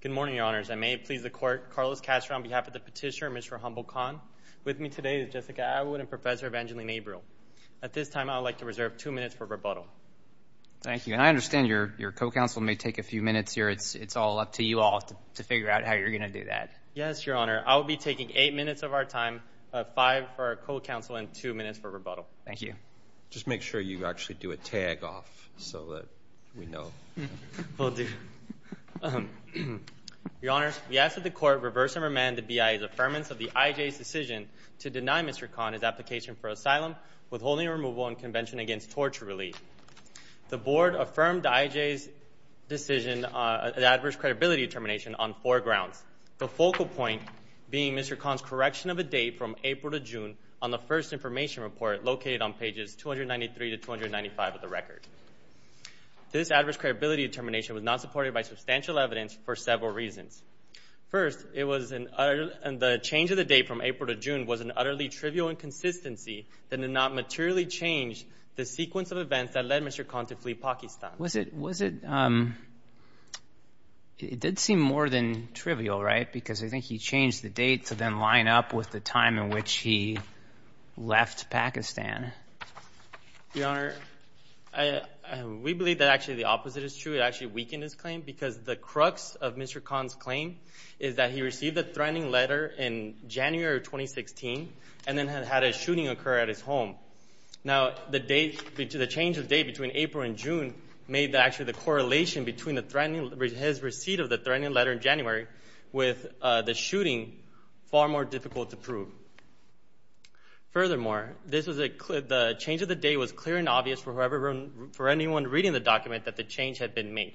Good morning, Your Honors. I may please the Court. Carlos Castro on behalf of the Petitioner and Mr. Humbald Khan. With me today is Jessica Atwood and Professor Evangeline Abreu. At this time, I would like to reserve two minutes for rebuttal. Thank you. And I understand your co-counsel may take a few minutes here. It's all up to you all to figure out how you're going to do that. Yes, Your Honor. I will be taking eight minutes of our time, five for our co-counsel, and two minutes for rebuttal. Thank you. Just make sure you actually do a tag off so that we know. We'll do. Your Honors, we ask that the Court reverse and remand the BIA's affirmance of the IJ's decision to deny Mr. Khan his application for asylum, withholding removal, and convention against torture relief. The Board affirmed the IJ's decision of adverse credibility determination on four grounds. The focal point being Mr. Khan's correction of a date from April to June on the first information report located on pages 293 to 295 of the record. This adverse credibility determination was not supported by substantial evidence for several reasons. First, it was an—and the change of the date from April to June was an utterly trivial inconsistency that did not materially change the sequence of events that led Mr. Khan to flee Pakistan. Was it—it did seem more than trivial, right? Because I think he changed the date to then line up with the time in which he left Pakistan. Your Honor, I—we believe that actually the opposite is true. It actually weakened his claim because the crux of Mr. Khan's claim is that he received the threatening letter in January of 2016 and then had a shooting occur at his home. Now, the date—the change of date between April and June made actually the correlation between the threatening— his receipt of the threatening letter in January with the shooting far more difficult to prove. Furthermore, this was a—the change of the date was clear and obvious for whoever— for anyone reading the document that the change had been made.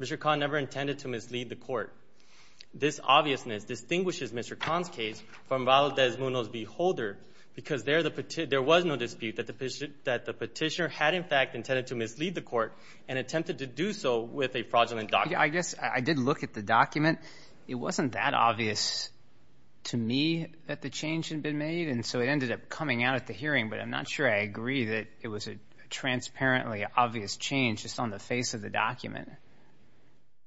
Mr. Khan never intended to mislead the court. This obviousness distinguishes Mr. Khan's case from Valdez-Munoz's beholder because there the—there was no dispute that the petitioner had in fact intended to mislead the court and attempted to do so with a fraudulent document. I guess I did look at the document. It wasn't that obvious to me that the change had been made, and so it ended up coming out at the hearing, but I'm not sure I agree that it was a transparently obvious change just on the face of the document.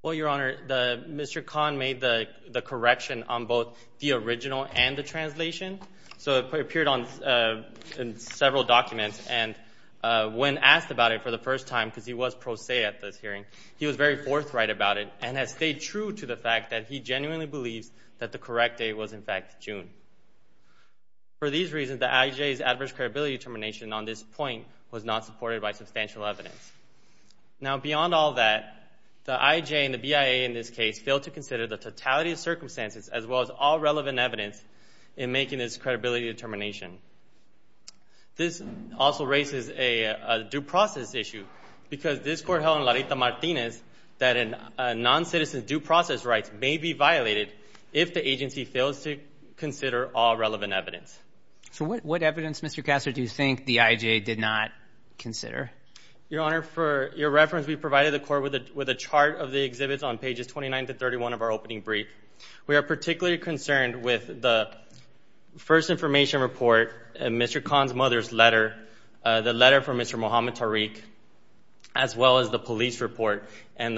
Well, Your Honor, the—Mr. Khan made the—the correction on both the original and the translation, so it appeared on several documents, and when asked about it for the first time, because he was pro se at this hearing, he was very forthright about it and has stayed true to the fact that he genuinely believes that the correct date was in fact June. For these reasons, the IJA's adverse credibility determination on this point was not supported by substantial evidence. Now, beyond all that, the IJA and the BIA in this case failed to consider the totality of circumstances as well as all relevant evidence in making this credibility determination. This also raises a due process issue because this court held in La Rita Martinez that a noncitizen's due process rights may be violated if the agency fails to consider all relevant evidence. So what evidence, Mr. Kassar, do you think the IJA did not consider? Your Honor, for your reference, we provided the court with a chart of the exhibits on pages 29 to 31 of our opening brief. We are particularly concerned with the first information report, Mr. Khan's mother's letter, the letter from Mr. Muhammad Tariq, as well as the police report and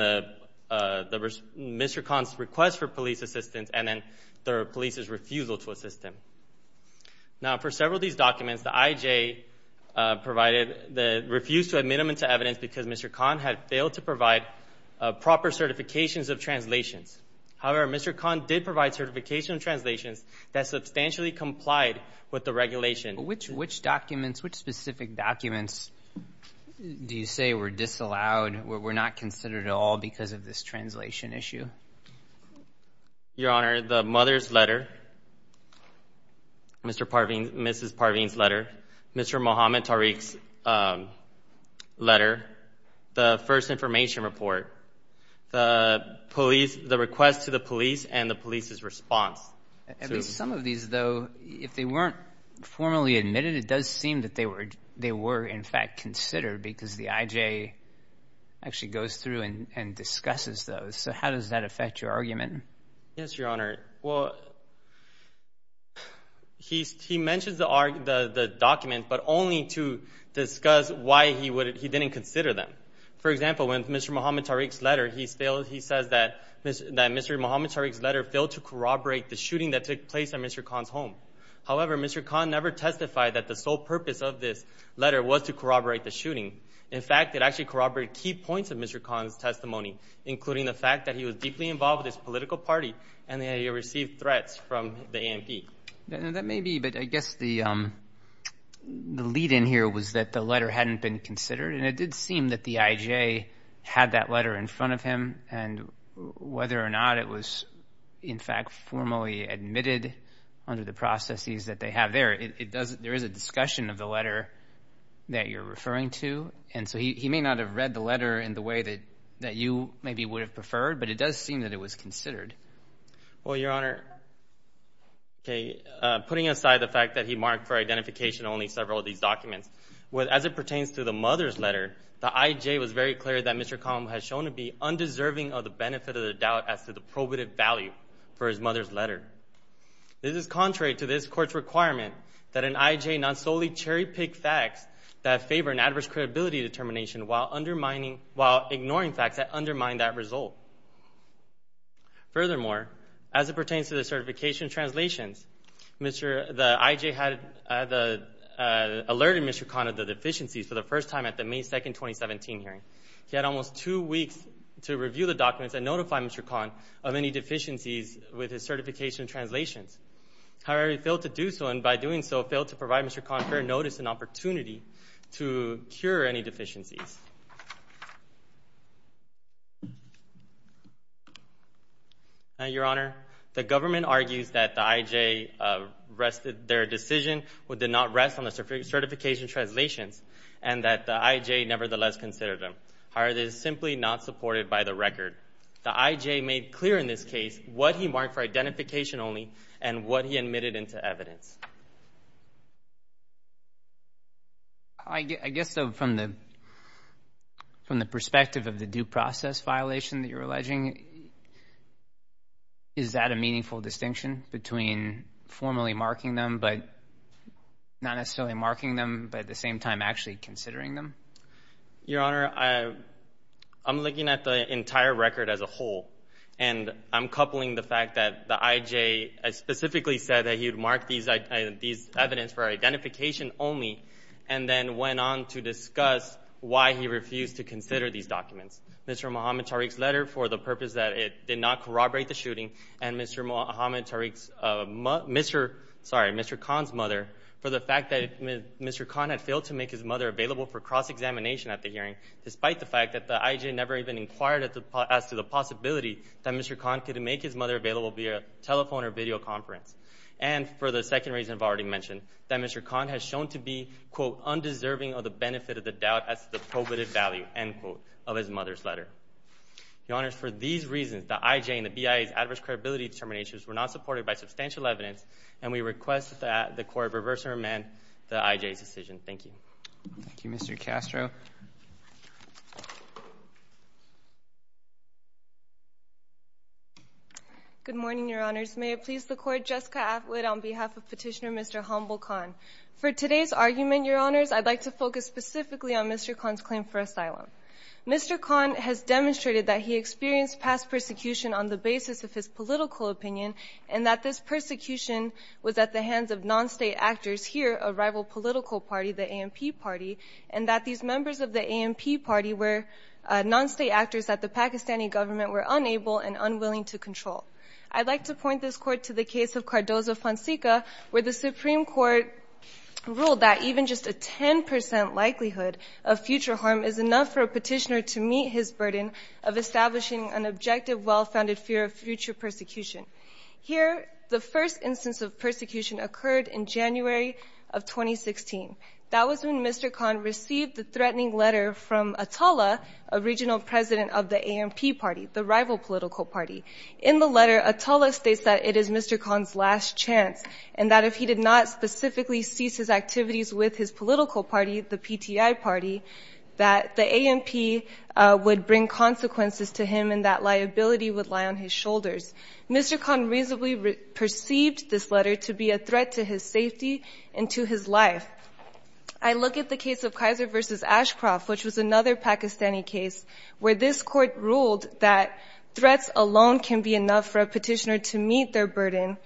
Mr. Khan's request for police assistance and then the police's refusal to assist him. Now, for several of these documents, the IJA refused to admit them into evidence because Mr. Khan had failed to provide proper certifications of translations. However, Mr. Khan did provide certification of translations that substantially complied with the regulation. Which documents, which specific documents do you say were disallowed, were not considered at all because of this translation issue? Your Honor, the mother's letter, Mrs. Parveen's letter, Mr. Muhammad Tariq's letter, the first information report, the request to the police and the police's response. At least some of these, though, if they weren't formally admitted, it does seem that they were in fact considered because the IJA actually goes through and discusses those. So how does that affect your argument? Yes, Your Honor. Well, he mentions the document, but only to discuss why he didn't consider them. For example, in Mr. Muhammad Tariq's letter, he says that Mr. Muhammad Tariq's letter failed to corroborate the shooting that took place at Mr. Khan's home. However, Mr. Khan never testified that the sole purpose of this letter was to corroborate the shooting. In fact, it actually corroborated key points of Mr. Khan's testimony, including the fact that he was deeply involved with his political party and that he had received threats from the ANP. That may be, but I guess the lead-in here was that the letter hadn't been considered, and it did seem that the IJA had that letter in front of him, and whether or not it was in fact formally admitted under the processes that they have there, there is a discussion of the letter that you're referring to. And so he may not have read the letter in the way that you maybe would have preferred, but it does seem that it was considered. Well, Your Honor, putting aside the fact that he marked for identification only several of these documents, as it pertains to the mother's letter, the IJA was very clear that Mr. Khan has shown to be undeserving of the benefit of the doubt as to the probative value for his mother's letter. This is contrary to this Court's requirement that an IJA not solely cherry-pick facts that favor an adverse credibility determination while ignoring facts that undermine that result. Furthermore, as it pertains to the certification translations, the IJA alerted Mr. Khan of the deficiencies for the first time at the May 2, 2017 hearing. He had almost two weeks to review the documents and notify Mr. Khan of any deficiencies with his certification translations. However, he failed to do so, and by doing so, failed to provide Mr. Khan fair notice and opportunity to cure any deficiencies. Now, Your Honor, the government argues that the IJA rested their decision when they did not rest on the certification translations and that the IJA nevertheless considered them. However, this is simply not supported by the record. The IJA made clear in this case what he marked for identification only and what he admitted into evidence. I guess, though, from the perspective of the due process violation that you're alleging, is that a meaningful distinction between formally marking them, but not necessarily marking them, but at the same time actually considering them? Your Honor, I'm looking at the entire record as a whole, and I'm coupling the fact that the IJA specifically said that he would mark these evidence for identification only and then went on to discuss why he refused to consider these documents. Mr. Muhammad Tariq's letter for the purpose that it did not corroborate the shooting and Mr. Khan's mother for the fact that Mr. Khan had failed to make his mother available for cross-examination at the hearing, despite the fact that the IJA never even inquired as to the possibility that Mr. Khan could make his mother available via telephone or video conference, and for the second reason I've already mentioned, that Mr. Khan has shown to be, quote, undeserving of the benefit of the doubt as to the probative value, end quote, of his mother's letter. Your Honor, for these reasons, the IJA and the BIA's adverse credibility determinations were not supported by substantial evidence, and we request that the Court reverse or amend the IJA's decision. Thank you. Thank you. Mr. Castro. Good morning, Your Honors. May it please the Court, Jessica Atwood on behalf of Petitioner Mr. Humble Khan. For today's argument, Your Honors, I'd like to focus specifically on Mr. Khan's claim for asylum. Mr. Khan has demonstrated that he experienced past persecution on the basis of his political opinion and that this persecution was at the hands of non-state actors, here a rival political party, the ANP party, and that these members of the ANP party were non-state actors that the Pakistani government were unable and unwilling to control. I'd like to point this Court to the case of Cardozo-Fonseca, where the Supreme Court ruled that even just a 10% likelihood of future harm is enough for a petitioner to meet his burden of establishing an objective, well-founded fear of future persecution. Here, the first instance of persecution occurred in January of 2016. That was when Mr. Khan received the threatening letter from Atala, a regional president of the ANP party, the rival political party. In the letter, Atala states that it is Mr. Khan's last chance and that if he did not specifically cease his activities with his political party, the PTI party, that the ANP would bring consequences to him and that liability would lie on his shoulders. Mr. Khan reasonably perceived this letter to be a threat to his safety and to his life. I look at the case of Kaiser v. Ashcroft, which was another Pakistani case, where this Court ruled that threats alone can be enough for a petitioner to meet their burden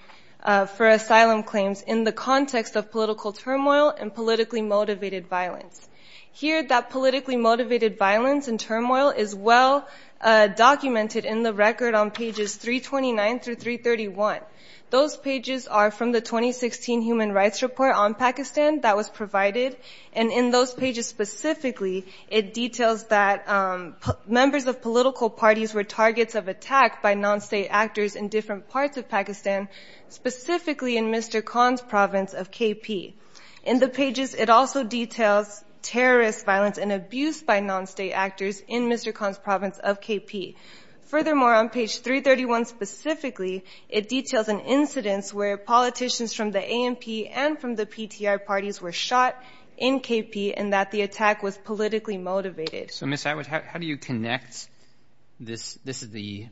for asylum claims in the context of political turmoil and politically motivated violence. Here, that politically motivated violence and turmoil is well documented in the record on pages 329 through 331. Those pages are from the 2016 Human Rights Report on Pakistan that was provided, and in those pages specifically, it details that members of political parties were targets of attack by non-state actors in different parts of Pakistan, specifically in Mr. Khan's province of KP. In the pages, it also details terrorist violence and abuse by non-state actors in Mr. Khan's province of KP. Furthermore, on page 331 specifically, it details an incidence where politicians from the ANP and from the PTI parties were shot in KP and that the attack was politically motivated. So, Ms. Atwood, how do you connect this? This is the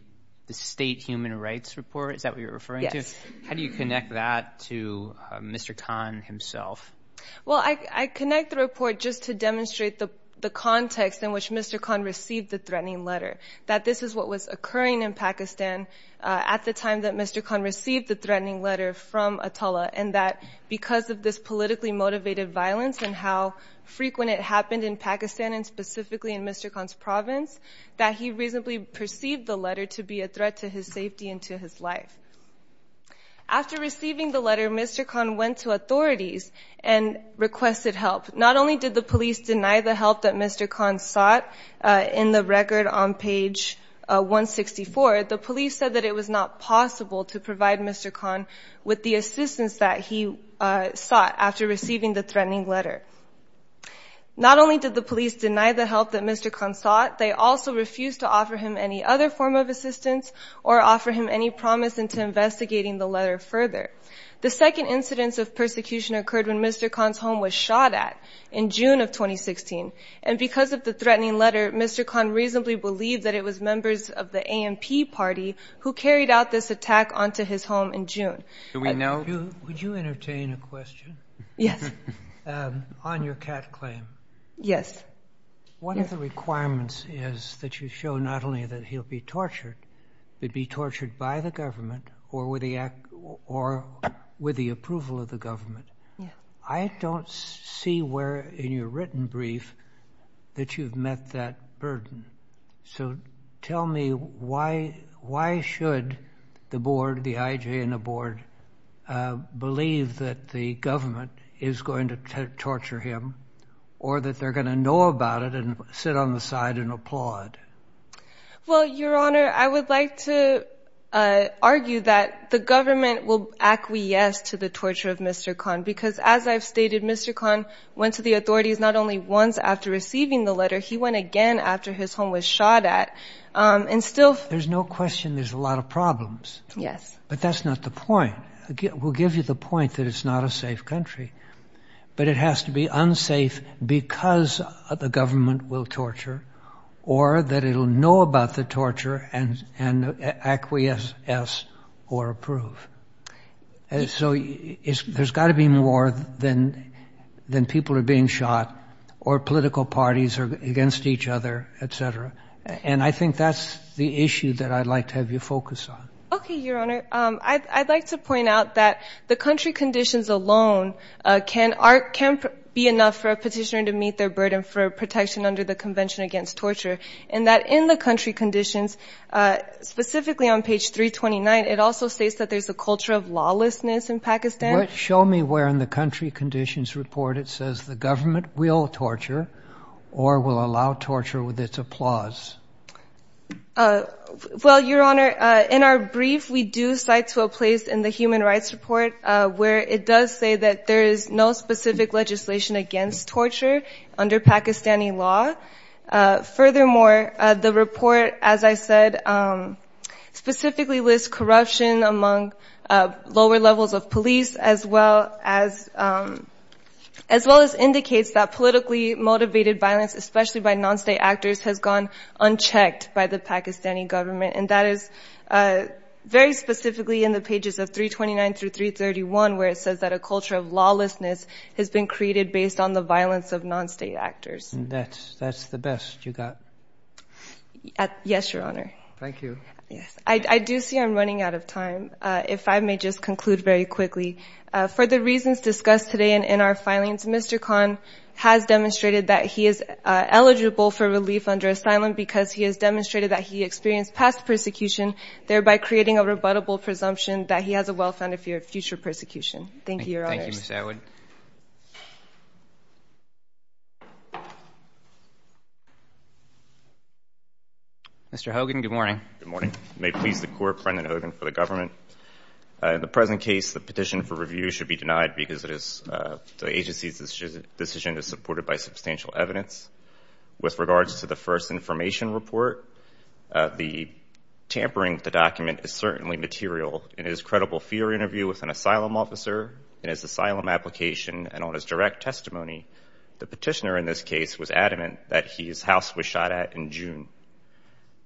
State Human Rights Report, is that what you're referring to? Yes. How do you connect that to Mr. Khan himself? Well, I connect the report just to demonstrate the context in which Mr. Khan received the threatening letter, that this is what was occurring in Pakistan at the time that Mr. Khan received the threatening letter from Atullah, and that because of this politically motivated violence and how frequent it happened in Pakistan and specifically in Mr. Khan's province, that he reasonably perceived the letter to be a threat to his safety and to his life. After receiving the letter, Mr. Khan went to authorities and requested help. Not only did the police deny the help that Mr. Khan sought in the record on page 164, the police said that it was not possible to provide Mr. Khan with the assistance that he sought after receiving the threatening letter. Not only did the police deny the help that Mr. Khan sought, they also refused to offer him any other form of assistance or offer him any promise into investigating the letter further. The second incidence of persecution occurred when Mr. Khan's home was shot at in June of 2016. And because of the threatening letter, Mr. Khan reasonably believed that it was members of the ANP party who carried out this attack onto his home in June. Do we know? Would you entertain a question? Yes. On your cat claim. Yes. One of the requirements is that you show not only that he'll be tortured, but be tortured by the government or with the approval of the government. I don't see where in your written brief that you've met that burden. So tell me why should the board, the IJ and the board, believe that the government is going to torture him or that they're going to know about it and sit on the side and applaud? Well, Your Honor, I would like to argue that the government will acquiesce to the torture of Mr. Khan because as I've stated, Mr. Khan went to the authorities not only once after receiving the letter, he went again after his home was shot at and still. There's no question there's a lot of problems. Yes. But that's not the point. We'll give you the point that it's not a safe country. But it has to be unsafe because the government will torture or that it'll know about the torture and acquiesce or approve. So there's got to be more than people are being shot or political parties are against each other, et cetera. And I think that's the issue that I'd like to have you focus on. Okay, Your Honor. I'd like to point out that the country conditions alone can be enough for a petitioner to meet their burden for protection under the Convention Against Torture, and that in the country conditions, specifically on page 329, it also states that there's a culture of lawlessness in Pakistan. Show me where in the country conditions report it says the government will torture or will allow torture with its applause. Well, Your Honor, in our brief, we do cite to a place in the human rights report where it does say that there is no specific legislation against torture under Pakistani law. Furthermore, the report, as I said, specifically lists corruption among lower levels of police as well as indicates that politically motivated violence, especially by non-state actors, has gone unchecked by the Pakistani government. And that is very specifically in the pages of 329 through 331, where it says that a culture of lawlessness has been created based on the violence of non-state actors. And that's the best you got? Yes, Your Honor. Thank you. I do see I'm running out of time. If I may just conclude very quickly, for the reasons discussed today and in our filings, Mr. Khan has demonstrated that he is eligible for relief under asylum because he has demonstrated that he experienced past persecution, thereby creating a rebuttable presumption that he has a well-founded fear of future persecution. Thank you, Your Honors. Thank you, Ms. Atwood. Mr. Hogan, good morning. Good morning. May it please the Court, Brendan Hogan for the government. In the present case, the petition for review should be denied because the agency's decision is supported by substantial evidence. With regards to the first information report, the tampering of the document is certainly material. In his credible fear interview with an asylum officer, in his asylum application, and on his direct testimony, the petitioner in this case was adamant that his house was shot at in June.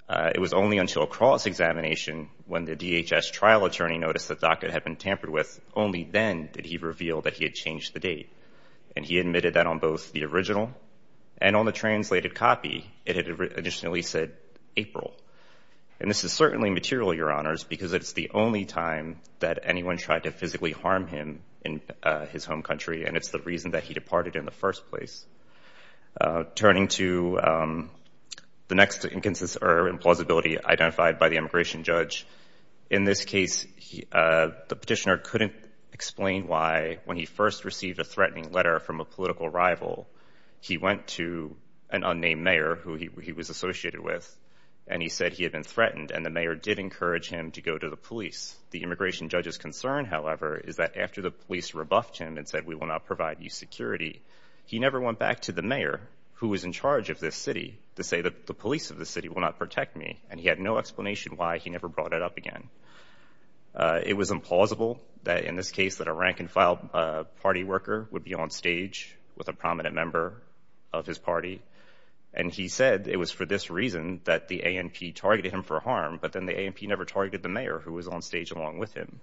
It was only until a cross-examination when the DHS trial attorney noticed the document had been tampered with. Only then did he reveal that he had changed the date, and he admitted that on both the original and on the translated copy it had additionally said April. And this is certainly material, Your Honors, because it's the only time that anyone tried to physically harm him in his home country, and it's the reason that he departed in the first place. Turning to the next implausibility identified by the immigration judge, in this case, the petitioner couldn't explain why, when he first received a threatening letter from a political rival, he went to an unnamed mayor who he was associated with, and he said he had been threatened, and the mayor did encourage him to go to the police. The immigration judge's concern, however, is that after the police rebuffed him and said, we will not provide you security, he never went back to the mayor who was in charge of this city to say that the police of this city will not protect me, and he had no explanation why he never brought it up again. It was implausible that, in this case, that a rank-and-file party worker would be on stage with a prominent member of his party, and he said it was for this reason that the ANP targeted him for harm, but then the ANP never targeted the mayor who was on stage along with him.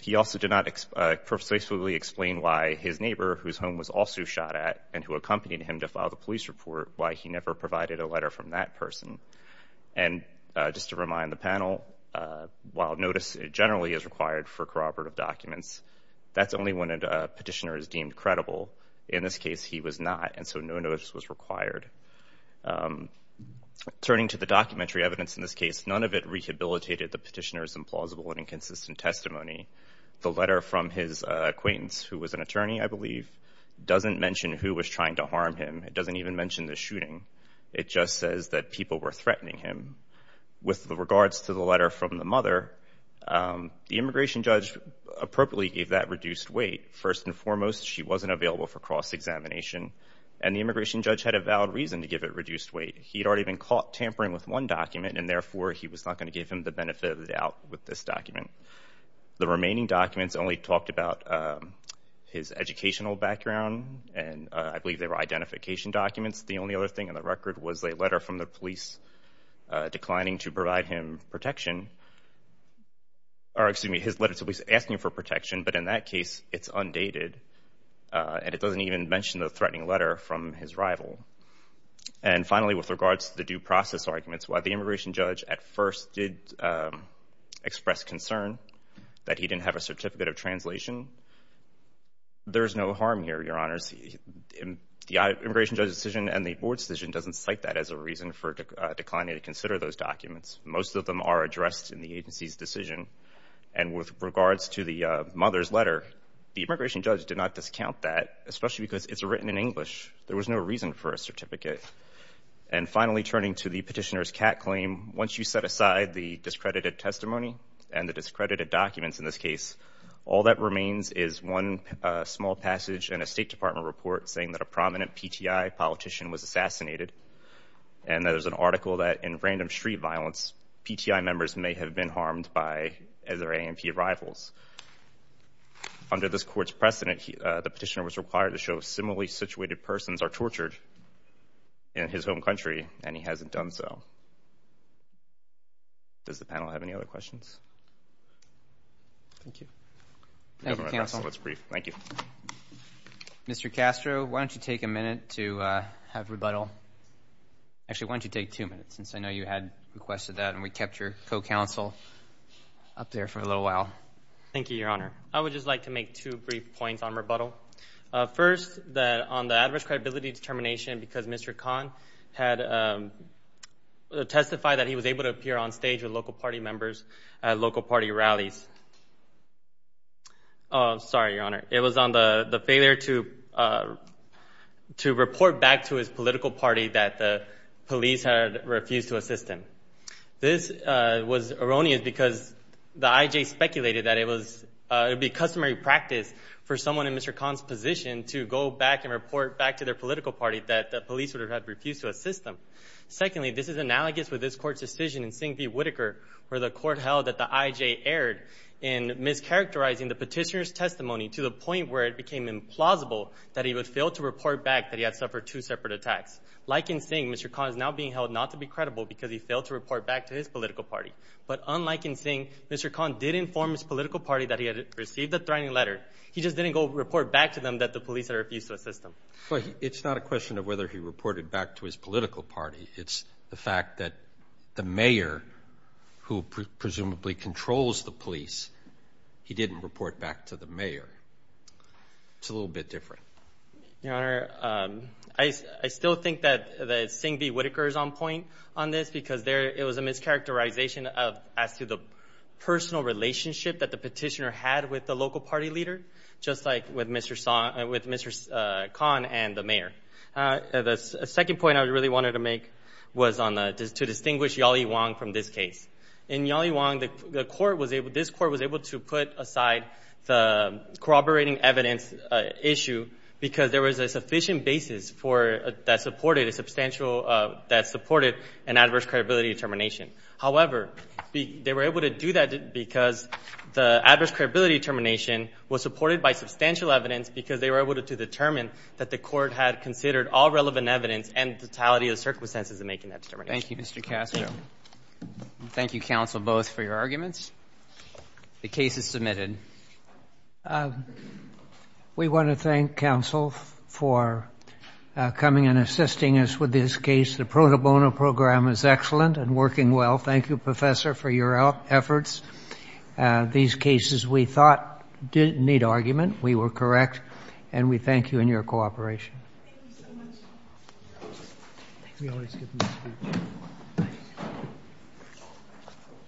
He also did not explicitly explain why his neighbor, whose home was also shot at, and who accompanied him to file the police report, why he never provided a letter from that person. And just to remind the panel, while notice generally is required for corroborative documents, that's only when a petitioner is deemed credible. In this case, he was not, and so no notice was required. Turning to the documentary evidence in this case, none of it rehabilitated the petitioner's implausible and inconsistent testimony. The letter from his acquaintance, who was an attorney, I believe, doesn't mention who was trying to harm him. It doesn't even mention the shooting. It just says that people were threatening him. With regards to the letter from the mother, the immigration judge appropriately gave that reduced weight. First and foremost, she wasn't available for cross-examination, and the immigration judge had a valid reason to give it reduced weight. He had already been caught tampering with one document, and therefore he was not going to give him the benefit of the doubt with this document. The remaining documents only talked about his educational background, and I believe they were identification documents. The only other thing in the record was a letter from the police declining to provide him protection. Or, excuse me, his letter to the police asking for protection, but in that case, it's undated, and it doesn't even mention the threatening letter from his rival. And finally, with regards to the due process arguments, while the immigration judge at first did express concern that he didn't have a certificate of translation, there is no harm here, Your Honors. The immigration judge's decision and the board's decision doesn't cite that as a reason for declining to consider those documents. Most of them are addressed in the agency's decision, and with regards to the mother's letter, the immigration judge did not discount that, especially because it's written in English. There was no reason for a certificate. And finally, turning to the petitioner's cat claim, once you set aside the discredited testimony and the discredited documents in this case, all that remains is one small passage in a State Department report saying that a prominent PTI politician was assassinated, and that there's an article that in random street violence, PTI members may have been harmed by other A&P rivals. Under this court's precedent, the petitioner was required to show similarly situated persons are tortured in his home country, and he hasn't done so. Does the panel have any other questions? Thank you. Thank you, counsel. That's brief. Thank you. Mr. Castro, why don't you take a minute to have rebuttal? Actually, why don't you take two minutes, since I know you had requested that, and we kept your co-counsel up there for a little while. Thank you, Your Honor. I would just like to make two brief points on rebuttal. First, on the adverse credibility determination because Mr. Khan had testified that he was able to appear on stage with local party members at local party rallies. Sorry, Your Honor. It was on the failure to report back to his political party that the police had refused to assist him. This was erroneous because the IJ speculated that it would be customary practice for someone in Mr. Khan's position to go back and report back to their political party that the police would have refused to assist them. Secondly, this is analogous with this Court's decision in Singh v. Whitaker, where the Court held that the IJ erred in mischaracterizing the petitioner's testimony to the point where it became implausible that he would fail to report back that he had suffered two separate attacks. Like in Singh, Mr. Khan is now being held not to be credible because he failed to report back to his political party. But unlike in Singh, Mr. Khan did inform his political party that he had received the threatening letter. He just didn't go report back to them that the police had refused to assist him. It's not a question of whether he reported back to his political party. It's the fact that the mayor, who presumably controls the police, he didn't report back to the mayor. It's a little bit different. Your Honor, I still think that Singh v. Whitaker is on point on this because it was a mischaracterization as to the personal relationship that the petitioner had with the local party leader. Just like with Mr. Khan and the mayor. The second point I really wanted to make was to distinguish Yali Wong from this case. In Yali Wong, this Court was able to put aside the corroborating evidence issue because there was a sufficient basis that supported an adverse credibility determination. However, they were able to do that because the adverse credibility determination was supported by substantial evidence because they were able to determine that the Court had considered all relevant evidence and the totality of the circumstances in making that determination. Thank you, Mr. Castro. Thank you, counsel, both, for your arguments. The case is submitted. We want to thank counsel for coming and assisting us with this case. The pro bono program is excellent and working well. Thank you, professor, for your efforts. These cases, we thought, didn't need argument. We were correct, and we thank you in your cooperation. Thank you so much. We always give them a speech.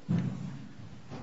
Thank you.